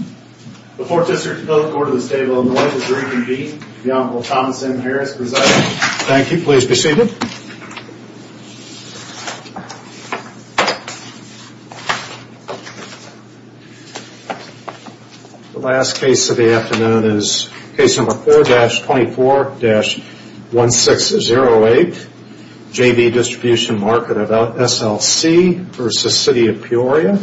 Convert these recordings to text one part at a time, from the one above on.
Council, can we have appearances? First for the Appearance of the Distribution Market of SLC, LLC v. City of Peoria, and then for the Appearance of the Distribution Market of SLC v. City of Peoria.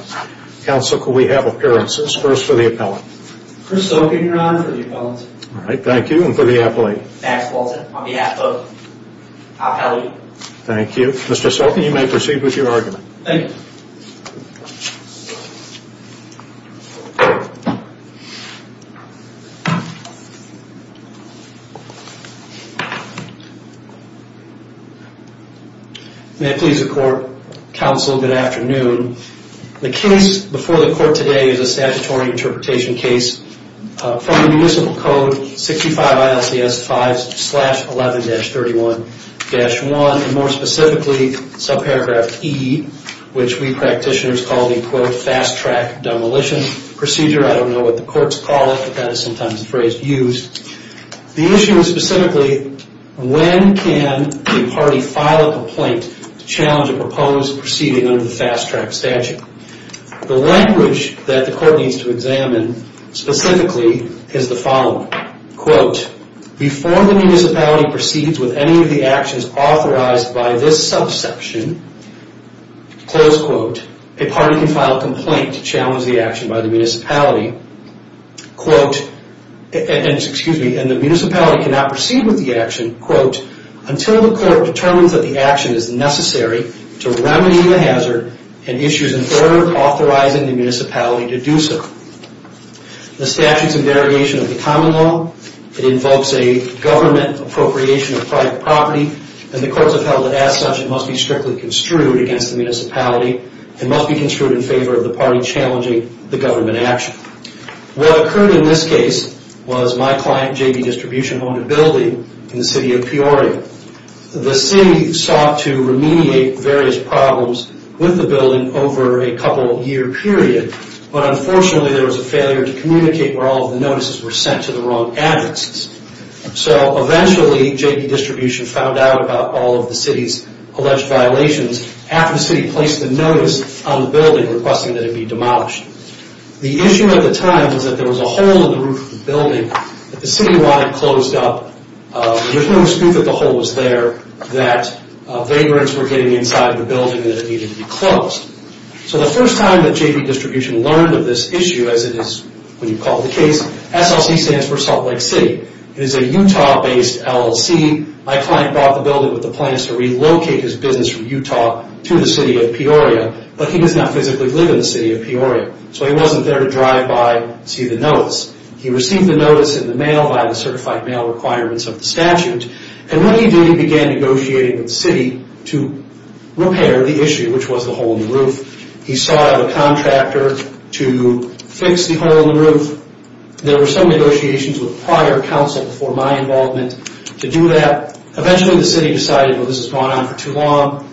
Thank you, and for the Appellate. Max Walton, on behalf of the Appellate. Thank you. Mr. Stolkin, you may proceed with your argument. Thank you. May it please the court. May it please the court. Counsel, good afternoon. The case before the court today is a statutory interpretation case from the Municipal Code 65 ILCS 5-11-31-1. More specifically, subparagraph E, which we practitioners call the fast-track demolition procedure. I don't know what the courts call it, but that is sometimes the phrase used. The issue is specifically, when can a party file a complaint to challenge a proposed proceeding under the fast-track statute? The language that the court needs to examine specifically is the following. Before the municipality proceeds with any of the actions authorized by this subsection, a party can file a complaint to challenge the action by the municipality. What occurred in this case was my client, JB Distribution, owned a building in the city of Peoria. The city sought to remediate various problems with the building over a couple year period, but unfortunately there was a failure to communicate where all of the notices were sent to the wrong addresses. Eventually, JB Distribution found out about all of the city's alleged violations after the city placed a notice on the building requesting that it be demolished. The issue at the time was that there was a hole in the roof of the building that the city wanted closed up. There was no dispute that the hole was there, that vagrants were getting inside the building and that it needed to be closed. The first time that JB Distribution learned of this issue, as it is when you call the case, SLC stands for Salt Lake City. It is a Utah-based LLC. My client bought the building with the plans to relocate his business from Utah to the city of Peoria, but he does not physically live in the city of Peoria, so he wasn't there to drive by and see the notice. He received the notice in the mail via the certified mail requirements of the statute. When he did, he began negotiating with the city to repair the issue, which was the hole in the roof. He sought out a contractor to fix the hole in the roof. There were some negotiations with prior counsel before my involvement to do that. Eventually, the city decided, well, this has gone on for too long.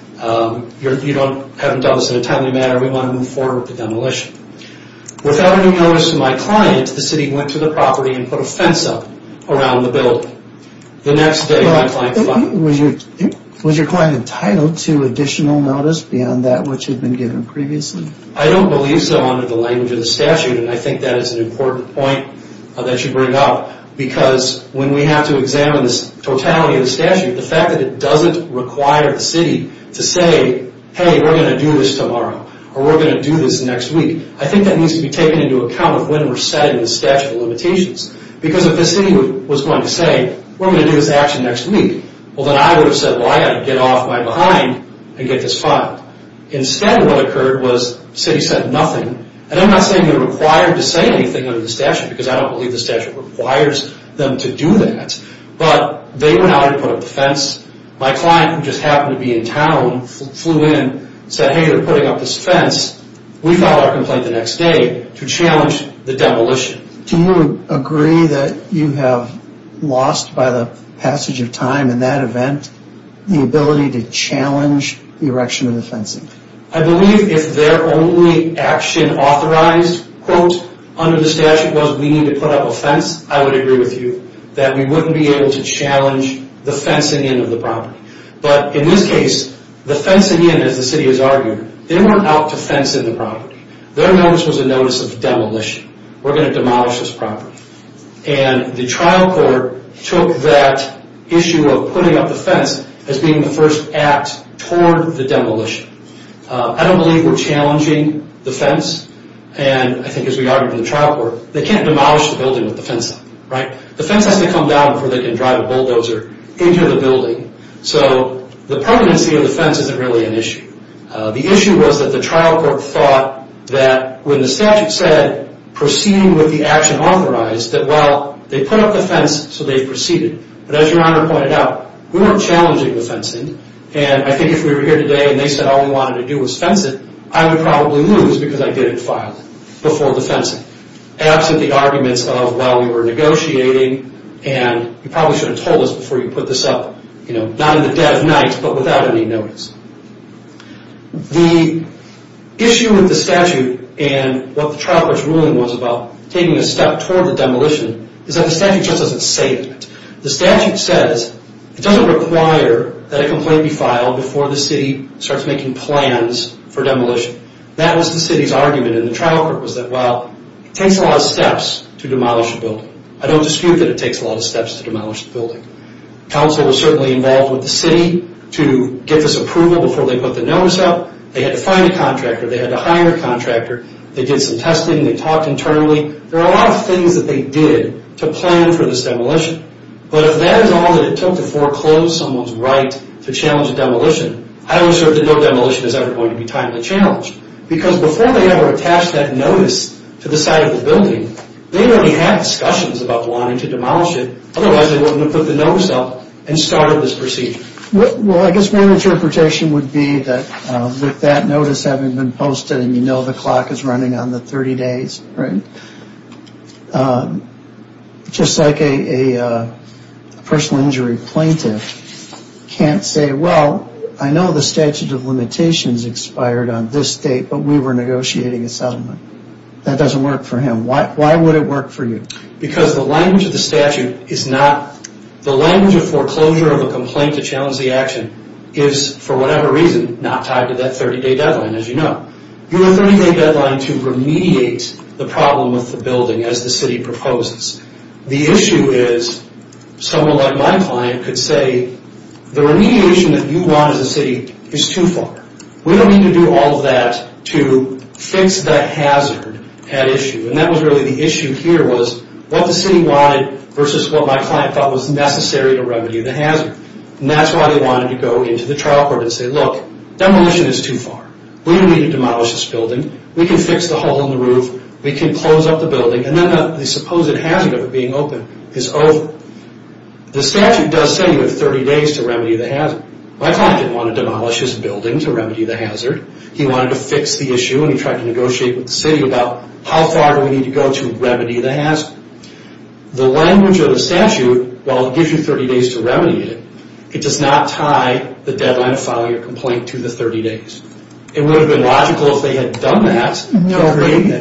You haven't done this in a timely manner. We want to move forward with the demolition. Without any notice to my client, the city went to the property and put a fence up around the building. Was your client entitled to additional notice beyond that which had been given previously? I don't believe so under the language of the statute, and I think that is an important point that you bring up. Because when we have to examine the totality of the statute, the fact that it doesn't require the city to say, hey, we're going to do this tomorrow, or we're going to do this next week, I think that needs to be taken into account when we're setting the statute of limitations. Because if the city was going to say, we're going to do this actually next week, then I would have said, well, I've got to get off my behind and get this filed. Instead, what occurred was the city said nothing. And I'm not saying they're required to say anything under the statute, because I don't believe the statute requires them to do that. But they went out and put up the fence. My client, who just happened to be in town, flew in and said, hey, they're putting up this fence. We filed our complaint the next day to challenge the demolition. Do you agree that you have lost, by the passage of time in that event, the ability to challenge the erection of the fencing? I believe if their only action authorized, quote, under the statute was we need to put up a fence, I would agree with you that we wouldn't be able to challenge the fencing in of the property. But in this case, the fencing in, as the city has argued, they weren't out to fence in the property. Their notice was a notice of demolition. We're going to demolish this property. And the trial court took that issue of putting up the fence as being the first act toward the demolition. I don't believe we're challenging the fence. And I think as we argued in the trial court, they can't demolish the building with the fence up, right? The fence has to come down before they can drive a bulldozer into the building. So the permanency of the fence isn't really an issue. The issue was that the trial court thought that when the statute said proceeding with the action authorized, that, well, they put up the fence, so they proceeded. But as Your Honor pointed out, we weren't challenging the fencing. And I think if we were here today and they said all we wanted to do was fence it, I would probably lose because I didn't file it before the fencing. Absent the arguments of, well, we were negotiating, and you probably should have told us before you put this up. Not in the dead of night, but without any notice. The issue with the statute and what the trial court's ruling was about taking a step toward the demolition is that the statute just doesn't say that. The statute says it doesn't require that a complaint be filed before the city starts making plans for demolition. That was the city's argument, and the trial court was that, well, it takes a lot of steps to demolish a building. I don't dispute that it takes a lot of steps to demolish a building. Council was certainly involved with the city to get this approval before they put the notice up. They had to find a contractor. They had to hire a contractor. They did some testing. They talked internally. There are a lot of things that they did to plan for this demolition. But if that is all that it took to foreclose someone's right to challenge a demolition, I would assert that no demolition is ever going to be timely challenged. Because before they ever attached that notice to the site of the building, they already had discussions about wanting to demolish it. Otherwise, they wouldn't have put the notice up and started this procedure. Well, I guess my interpretation would be that with that notice having been posted, and you know the clock is running on the 30 days, right? Just like a personal injury plaintiff can't say, well, I know the statute of limitations expired on this date, but we were negotiating a settlement. That doesn't work for him. Why would it work for you? Because the language of the statute is not, the language of foreclosure of a complaint to challenge the action is, for whatever reason, not tied to that 30-day deadline, as you know. You have a 30-day deadline to remediate the problem with the building, as the city proposes. The issue is, someone like my client could say, the remediation that you want as a city is too far. We don't need to do all of that to fix the hazard at issue. And that was really the issue here was what the city wanted versus what my client thought was necessary to remedy the hazard. And that's why they wanted to go into the trial court and say, look, demolition is too far. We don't need to demolish this building. We can fix the hole in the roof. We can close up the building. And then the supposed hazard of it being open is over. The statute does say you have 30 days to remedy the hazard. My client didn't want to demolish his building to remedy the hazard. He wanted to fix the issue, and he tried to negotiate with the city about how far do we need to go to remedy the hazard. The language of the statute, while it gives you 30 days to remedy it, it does not tie the deadline of filing a complaint to the 30 days. It would have been logical if they had done that.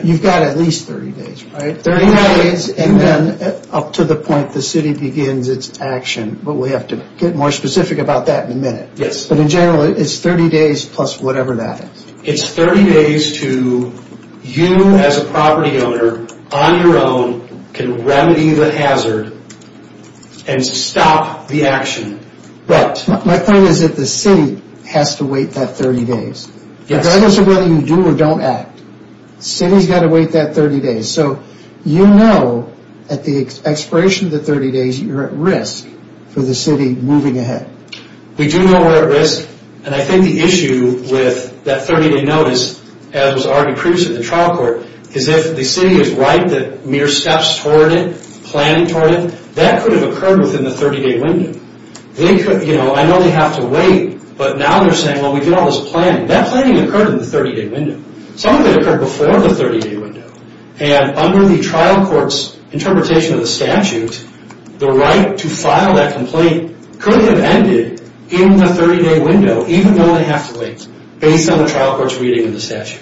You've got at least 30 days, right? 30 days and then up to the point the city begins its action. But we have to get more specific about that in a minute. Yes. But in general, it's 30 days plus whatever that is. It's 30 days to you as a property owner, on your own, can remedy the hazard and stop the action. My point is that the city has to wait that 30 days. Yes. It doesn't matter whether you do or don't act. The city's got to wait that 30 days. So you know at the expiration of the 30 days you're at risk for the city moving ahead. We do know we're at risk, and I think the issue with that 30-day notice, as was argued previously in the trial court, is if the city is right that mere steps toward it, planning toward it, that could have occurred within the 30-day window. I know they have to wait, but now they're saying, well, we did all this planning. That planning occurred in the 30-day window. Some of it occurred before the 30-day window. And under the trial court's interpretation of the statute, the right to file that complaint could have ended in the 30-day window, even though they have to wait, based on the trial court's reading of the statute.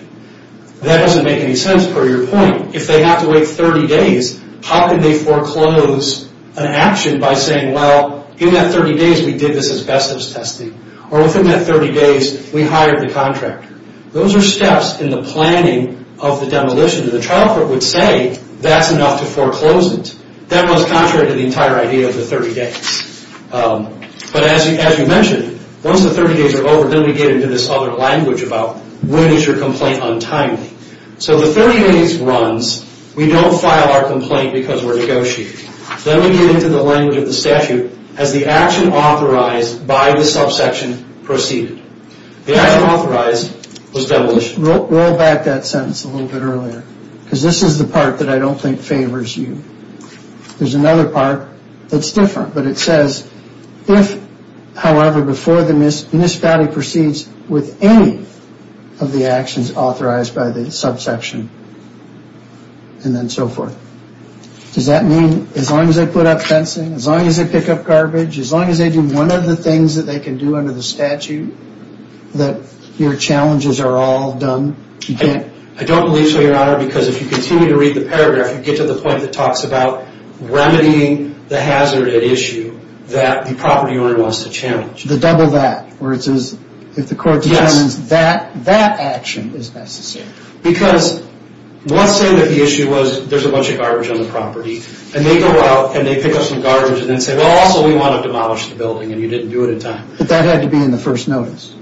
That doesn't make any sense, per your point. If they have to wait 30 days, how can they foreclose an action by saying, well, in that 30 days we did this asbestos testing, or within that 30 days we hired the contractor. Those are steps in the planning of the demolition. The trial court would say that's enough to foreclose it. That was contrary to the entire idea of the 30 days. But as you mentioned, once the 30 days are over, then we get into this other language about when is your complaint untimely. So the 30 days runs. We don't file our complaint because we're negotiating. Then we get into the language of the statute as the action authorized by the subsection proceeded. The action authorized was demolished. Roll back that sentence a little bit earlier, because this is the part that I don't think favors you. There's another part that's different, but it says, if, however, before the municipality proceeds with any of the actions authorized by the subsection, and then so forth. Does that mean as long as they put up fencing, as long as they pick up garbage, as long as they do one of the things that they can do under the statute, that your challenges are all done? I don't believe so, Your Honor, because if you continue to read the paragraph, you get to the point that talks about remedying the hazard at issue, that the property owner wants to challenge. The double that, where it says, if the court determines that, that action is necessary. Because let's say that the issue was there's a bunch of garbage on the property, and they go out and they pick up some garbage and then say, well, also, we want to demolish the building, and you didn't do it in time. But that had to be in the first notice.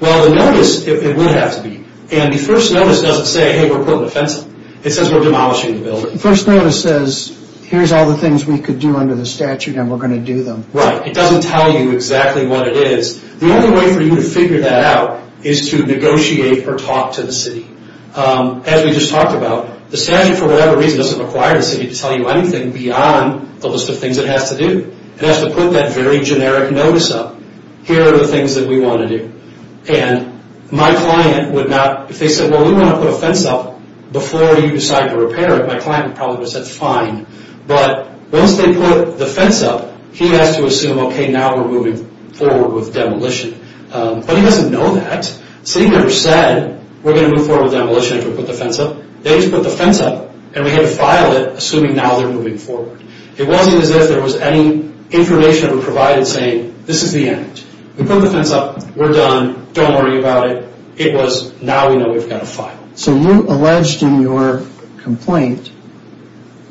Well, the notice, it would have to be. And the first notice doesn't say, hey, we're putting up fencing. It says we're demolishing the building. The first notice says, here's all the things we could do under the statute, and we're going to do them. It doesn't tell you exactly what it is. The only way for you to figure that out is to negotiate or talk to the city. As we just talked about, the statute, for whatever reason, doesn't require the city to tell you anything beyond the list of things it has to do. It has to put that very generic notice up. Here are the things that we want to do. And my client would not, if they said, well, we want to put a fence up before you decide to repair it, my client would probably have said, fine. But once they put the fence up, he has to assume, okay, now we're moving forward with demolition. But he doesn't know that. The city never said, we're going to move forward with demolition after we put the fence up. They just put the fence up, and we had to file it, assuming now they're moving forward. It wasn't as if there was any information that was provided saying, this is the end. We put the fence up. We're done. Don't worry about it. It was, now we know we've got to file. So you alleged in your complaint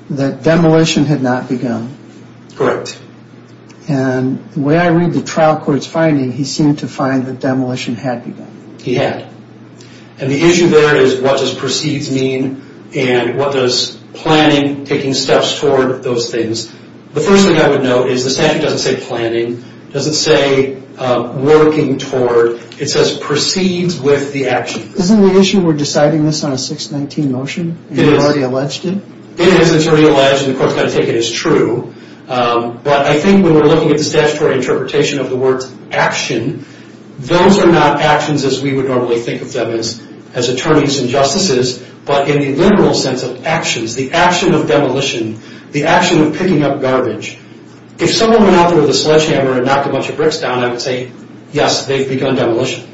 that demolition had not begun. And the way I read the trial court's finding, he seemed to find that demolition had begun. He had. And the issue there is what does proceeds mean, and what does planning, taking steps toward those things. The first thing I would note is the statute doesn't say planning. It doesn't say working toward. It says proceeds with the action. Isn't the issue we're deciding this on a 619 motion, and you've already alleged it? It is already alleged, and the court's going to take it as true. But I think when we're looking at the statutory interpretation of the word action, those are not actions as we would normally think of them as attorneys and justices, but in the literal sense of actions, the action of demolition, the action of picking up garbage. If someone went out there with a sledgehammer and knocked a bunch of bricks down, I would say, yes, they've begun demolition.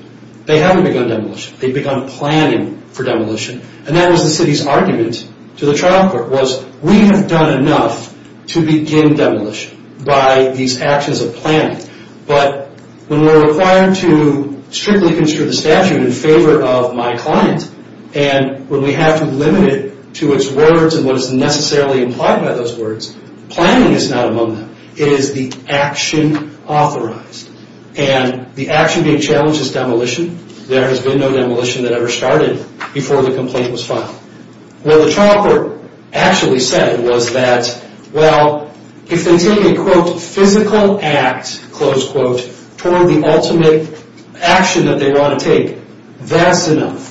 They haven't begun demolition. They've begun planning for demolition. And that was the city's argument to the trial court was, we have done enough to begin demolition by these actions of planning. But when we're required to strictly construe the statute in favor of my client, and when we have to limit it to its words and what is necessarily implied by those words, planning is not among them. It is the action authorized. And the action being challenged is demolition. There has been no demolition that ever started before the complaint was filed. What the trial court actually said was that, well, if they take a, quote, physical act, close quote, toward the ultimate action that they want to take, that's enough.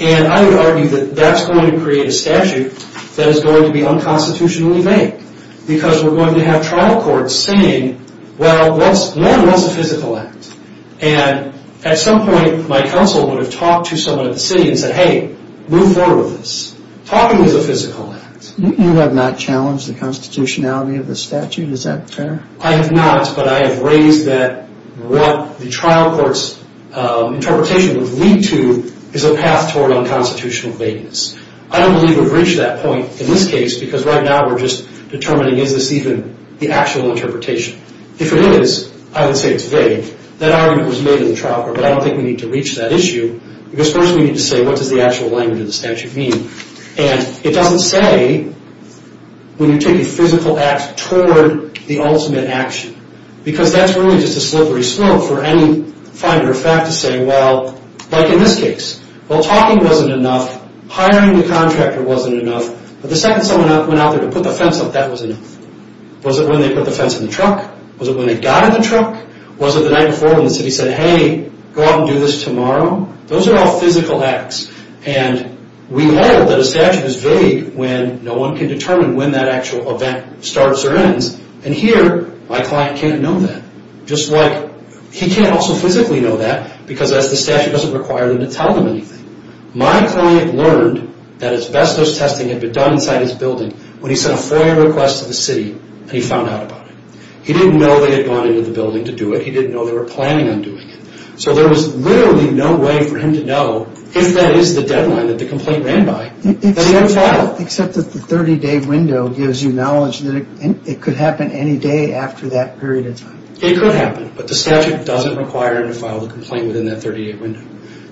And I would argue that that's going to create a statute that is going to be unconstitutionally made because we're going to have trial courts saying, well, one, what's a physical act? And at some point, my counsel would have talked to someone at the city and said, hey, move forward with this. Talking is a physical act. You have not challenged the constitutionality of the statute. Is that fair? I have not, but I have raised that what the trial court's interpretation would lead to is a path toward unconstitutional vagueness. I don't believe we've reached that point in this case because right now we're just determining is this even the actual interpretation. If it is, I would say it's vague. That argument was made in the trial court, but I don't think we need to reach that issue because first we need to say what does the actual language of the statute mean. And it doesn't say when you take a physical act toward the ultimate action because that's really just a slippery slope for any finder of fact to say, well, like in this case. Well, talking wasn't enough. Hiring the contractor wasn't enough. But the second someone went out there to put the fence up, that was enough. Was it when they put the fence in the truck? Was it when they got in the truck? Was it the night before when the city said, hey, go out and do this tomorrow? Those are all physical acts. And we know that a statute is vague when no one can determine when that actual event starts or ends. And here my client can't know that. Just like he can't also physically know that because the statute doesn't require him to tell them anything. My client learned that asbestos testing had been done inside his building when he sent a FOIA request to the city and he found out about it. He didn't know they had gone into the building to do it. He didn't know they were planning on doing it. So there was literally no way for him to know if that is the deadline that the complaint ran by that he had to file. Except that the 30-day window gives you knowledge that it could happen any day after that period of time. It could happen. But the statute doesn't require him to file the complaint within that 30-day window.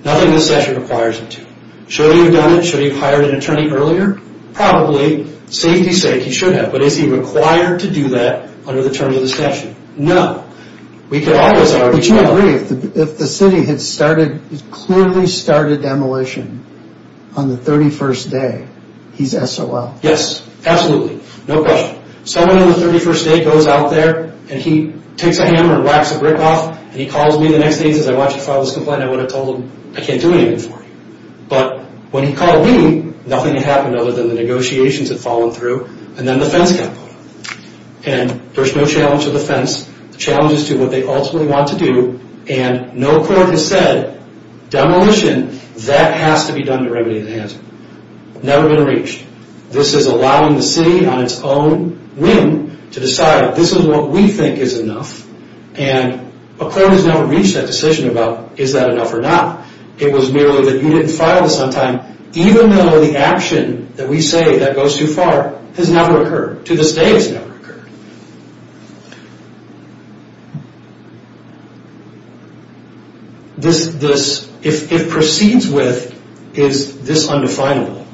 Nothing in the statute requires him to. Should he have done it? Should he have hired an attorney earlier? Probably. Safety's sake, he should have. But is he required to do that under the terms of the statute? No. But you agree if the city had clearly started demolition on the 31st day, he's SOL? Yes. Absolutely. No question. Someone on the 31st day goes out there and he takes a hammer and whacks the brick off and he calls me the next day and says, I want you to file this complaint. I would have told him I can't do anything for you. But when he called me, nothing had happened other than the negotiations had fallen through and then the fence got put up. And there's no challenge to the fence. The challenge is to what they ultimately want to do. And no court has said demolition, that has to be done to remedy the hazard. Never been reached. This is allowing the city on its own whim to decide, this is what we think is enough. And a court has never reached that decision about is that enough or not. It was merely that you didn't file this on time, even though the action that we say that goes too far has never occurred. To this day, it's never occurred. If it proceeds with, is this undefinable?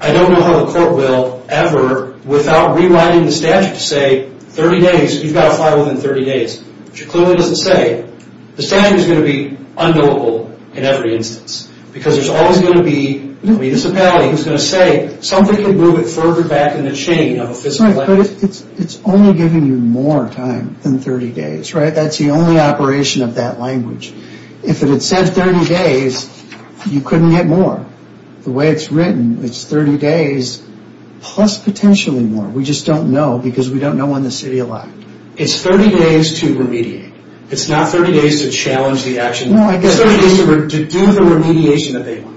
I don't know how the court will ever, without rewriting the statute, say 30 days, you've got to file within 30 days. Which it clearly doesn't say. The statute is going to be unknowable in every instance. Because there's always going to be a municipality who's going to say, something can move it further back in the chain. It's only giving you more time than 30 days, right? That's the only operation of that language. If it had said 30 days, you couldn't get more. The way it's written, it's 30 days plus potentially more. We just don't know because we don't know in the city a lot. It's 30 days to remediate. It's not 30 days to challenge the action. It's 30 days to do the remediation that they want.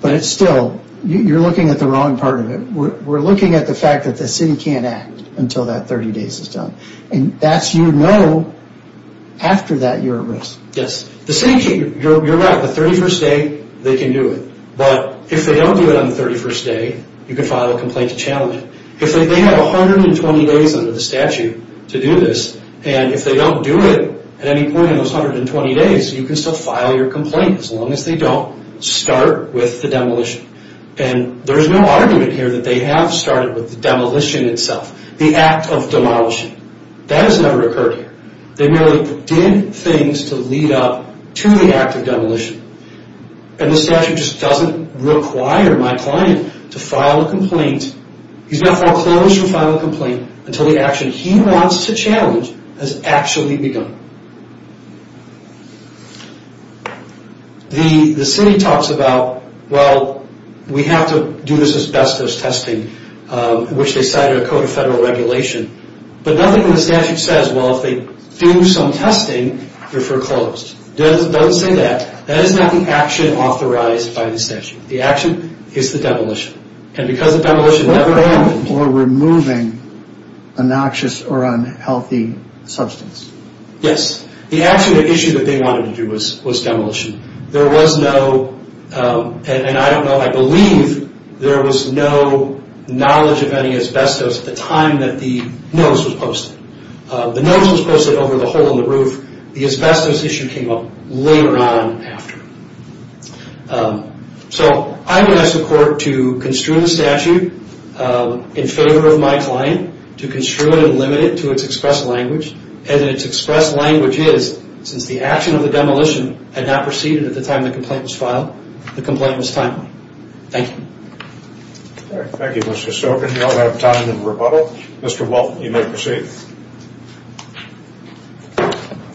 But still, you're looking at the wrong part of it. We're looking at the fact that the city can't act until that 30 days is done. And that's, you know, after that you're at risk. Yes. You're right. The 31st day, they can do it. But if they don't do it on the 31st day, you can file a complaint to challenge it. If they have 120 days under the statute to do this, and if they don't do it at any point in those 120 days, you can still file your complaint as long as they don't start with the demolition. And there's no argument here that they have started with the demolition itself, the act of demolishing. That has never occurred here. They merely did things to lead up to the act of demolition. And the statute just doesn't require my client to file a complaint. He's not going to file a complaint until the action he wants to challenge has actually begun. The city talks about, well, we have to do this as best as testing, which they cited a code of federal regulation. But nothing in the statute says, well, if they do some testing, you're foreclosed. It doesn't say that. That is not the action authorized by the statute. The action is the demolition. And because the demolition never happened. Or removing a noxious or unhealthy substance. Yes. The actual issue that they wanted to do was demolition. There was no, and I don't know if I believe, there was no knowledge of any asbestos at the time that the notice was posted. The notice was posted over the hole in the roof. The asbestos issue came up later on after. So I'm going to ask the court to construe the statute in favor of my client. To construe it and limit it to its expressed language. And its expressed language is, since the action of the demolition had not proceeded at the time the complaint was filed, the complaint was timely. Thank you. Thank you, Mr. Sogan. We don't have time for rebuttal. Mr. Walton, you may proceed.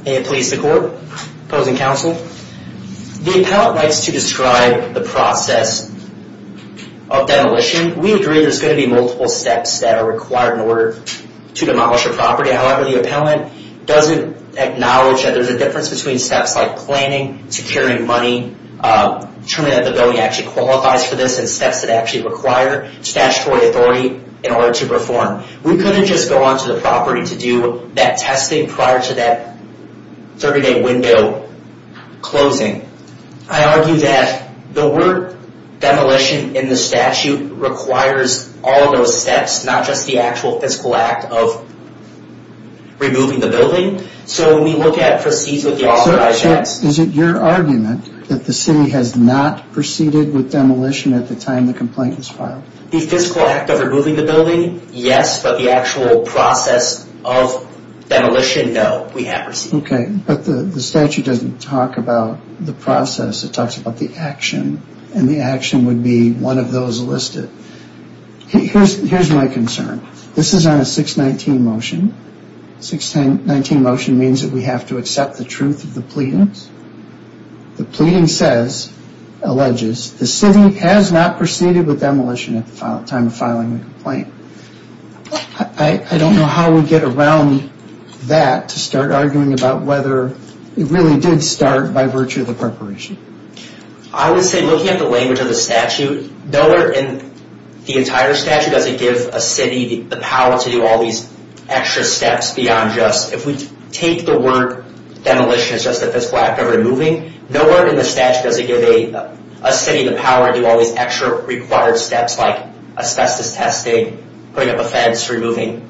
May it please the court. Opposing counsel. The appellant likes to describe the process of demolition. We agree there's going to be multiple steps that are required in order to demolish a property. However, the appellant doesn't acknowledge that there's a difference between steps like planning, securing money, determining that the building actually qualifies for this, and steps that actually require statutory authority in order to perform. We couldn't just go onto the property to do that testing prior to that 30-day window closing. I argue that the word demolition in the statute requires all of those steps, not just the actual fiscal act of removing the building. So when we look at proceeds with the authorized acts. Is it your argument that the city has not proceeded with demolition at the time the complaint was filed? The fiscal act of removing the building? Yes, but the actual process of demolition? No, we haven't. Okay, but the statute doesn't talk about the process. It talks about the action, and the action would be one of those listed. Here's my concern. This is on a 619 motion. 619 motion means that we have to accept the truth of the pleadings. The pleading says, alleges, the city has not proceeded with demolition at the time of filing the complaint. I don't know how we get around that to start arguing about whether it really did start by virtue of the preparation. I would say looking at the language of the statute, nowhere in the entire statute does it give a city the power to do all these extra steps beyond just, if we take the word demolition as just a fiscal act of removing, nowhere in the statute does it give a city the power to do all these extra required steps like asbestos testing, putting up a fence, removing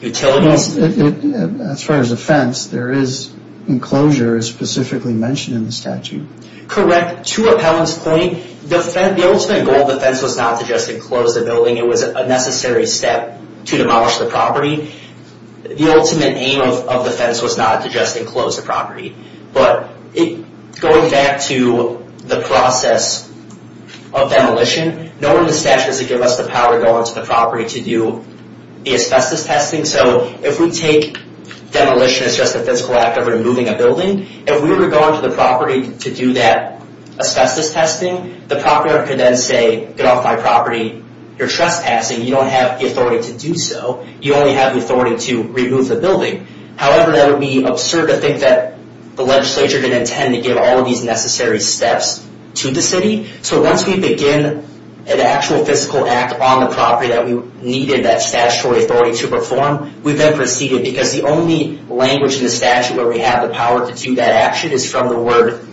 utilities. As far as a fence, there is enclosure specifically mentioned in the statute. Correct. To appellant's claim, the ultimate goal of the fence was not to just enclose the building. It was a necessary step to demolish the property. The ultimate aim of the fence was not to just enclose the property. But going back to the process of demolition, nowhere in the statute does it give us the power to go onto the property to do the asbestos testing. So if we take demolition as just a fiscal act of removing a building, if we were going to the property to do that asbestos testing, the property owner could then say, get off my property. You're trespassing. You don't have the authority to do so. You only have the authority to remove the building. However, that would be absurd to think that the legislature didn't intend to give all of these necessary steps to the city. So once we begin an actual fiscal act on the property that we needed that statutory authority to perform, we then proceeded because the only language in the statute where we have the power to do that action is from the word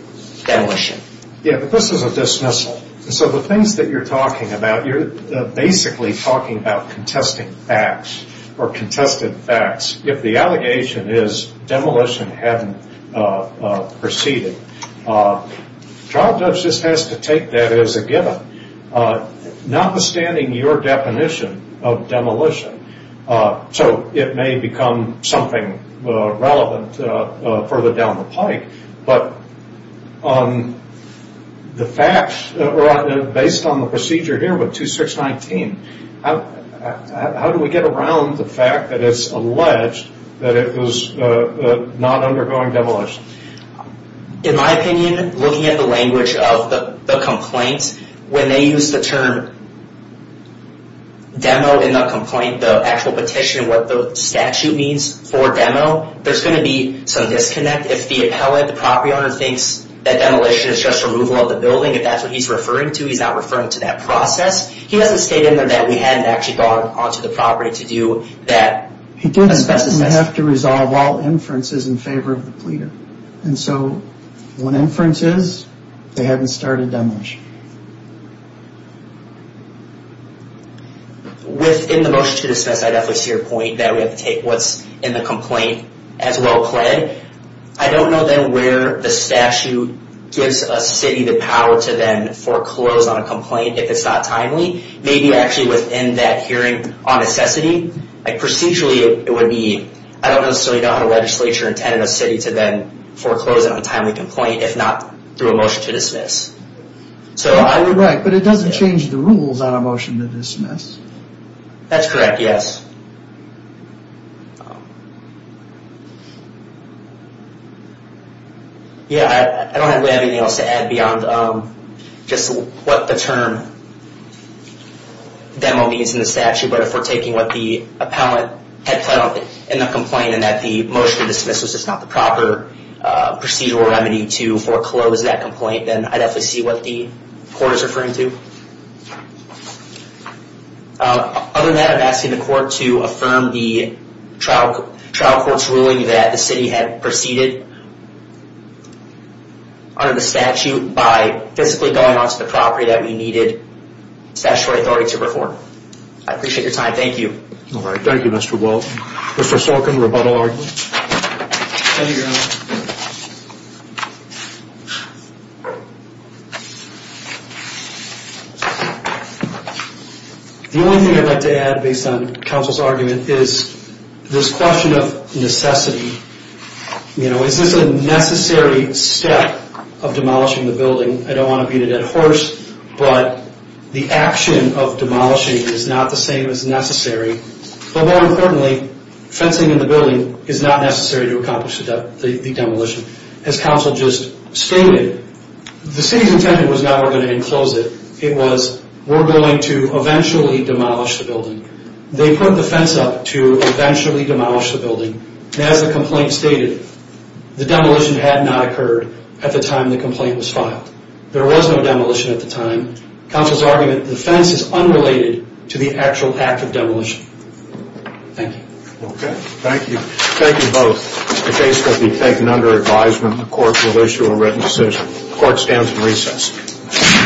demolition. Yeah, but this is a dismissal. So the things that you're talking about, you're basically talking about contesting facts or contested facts. If the allegation is demolition hadn't proceeded, trial judge just has to take that as a given, notwithstanding your definition of demolition. So it may become something relevant further down the pike. But based on the procedure here with 2619, how do we get around the fact that it's alleged that it was not undergoing demolition? In my opinion, looking at the language of the complaint, when they use the term demo in the complaint, the actual petition, what the statute means for demo, there's going to be some disconnect. If the appellate, the property owner, thinks that demolition is just removal of the building, if that's what he's referring to, he's not referring to that process. He doesn't state in there that we hadn't actually gone onto the property to do that. He didn't have to resolve all inferences in favor of the pleader. And so when inferences, they haven't started demolition. Within the motion to dismiss, I definitely see your point that we have to take what's in the complaint as well, I don't know then where the statute gives a city the power to then foreclose on a complaint if it's not timely. Maybe actually within that hearing on necessity. Procedurally, it would be, I don't necessarily know how the legislature intended a city to then foreclose on a timely complaint, if not through a motion to dismiss. Right, but it doesn't change the rules on a motion to dismiss. That's correct, yes. Yeah, I don't have anything else to add beyond just what the term demo means in the statute, but if we're taking what the appellate had put up in the complaint, and that the motion to dismiss was just not the proper procedural remedy to foreclose that complaint, then I definitely see what the court is referring to. Other than that, I'm asking the court to affirm the trial court's ruling that the city had proceeded under the statute by physically going onto the property that we needed statutory authority to perform. I appreciate your time, thank you. All right, thank you, Mr. Welch. Mr. Sorkin, rebuttal argument? Thank you, Your Honor. The only thing I'd like to add based on counsel's argument is this question of necessity. You know, is this a necessary step of demolishing the building? I don't want to beat it at a horse, but the action of demolishing is not the same as necessary. But more importantly, fencing in the building is not necessary to accomplish the demolition. As counsel just stated, the city's intent was not we're going to enclose it, it was we're going to eventually demolish the building. They put the fence up to eventually demolish the building, and as the complaint stated, the demolition had not occurred at the time the complaint was filed. There was no demolition at the time. Counsel's argument, the fence is unrelated to the actual act of demolition. Thank you. Okay, thank you. Thank you both. In the case that be taken under advisement, the court will issue a written decision. Court stands in recess.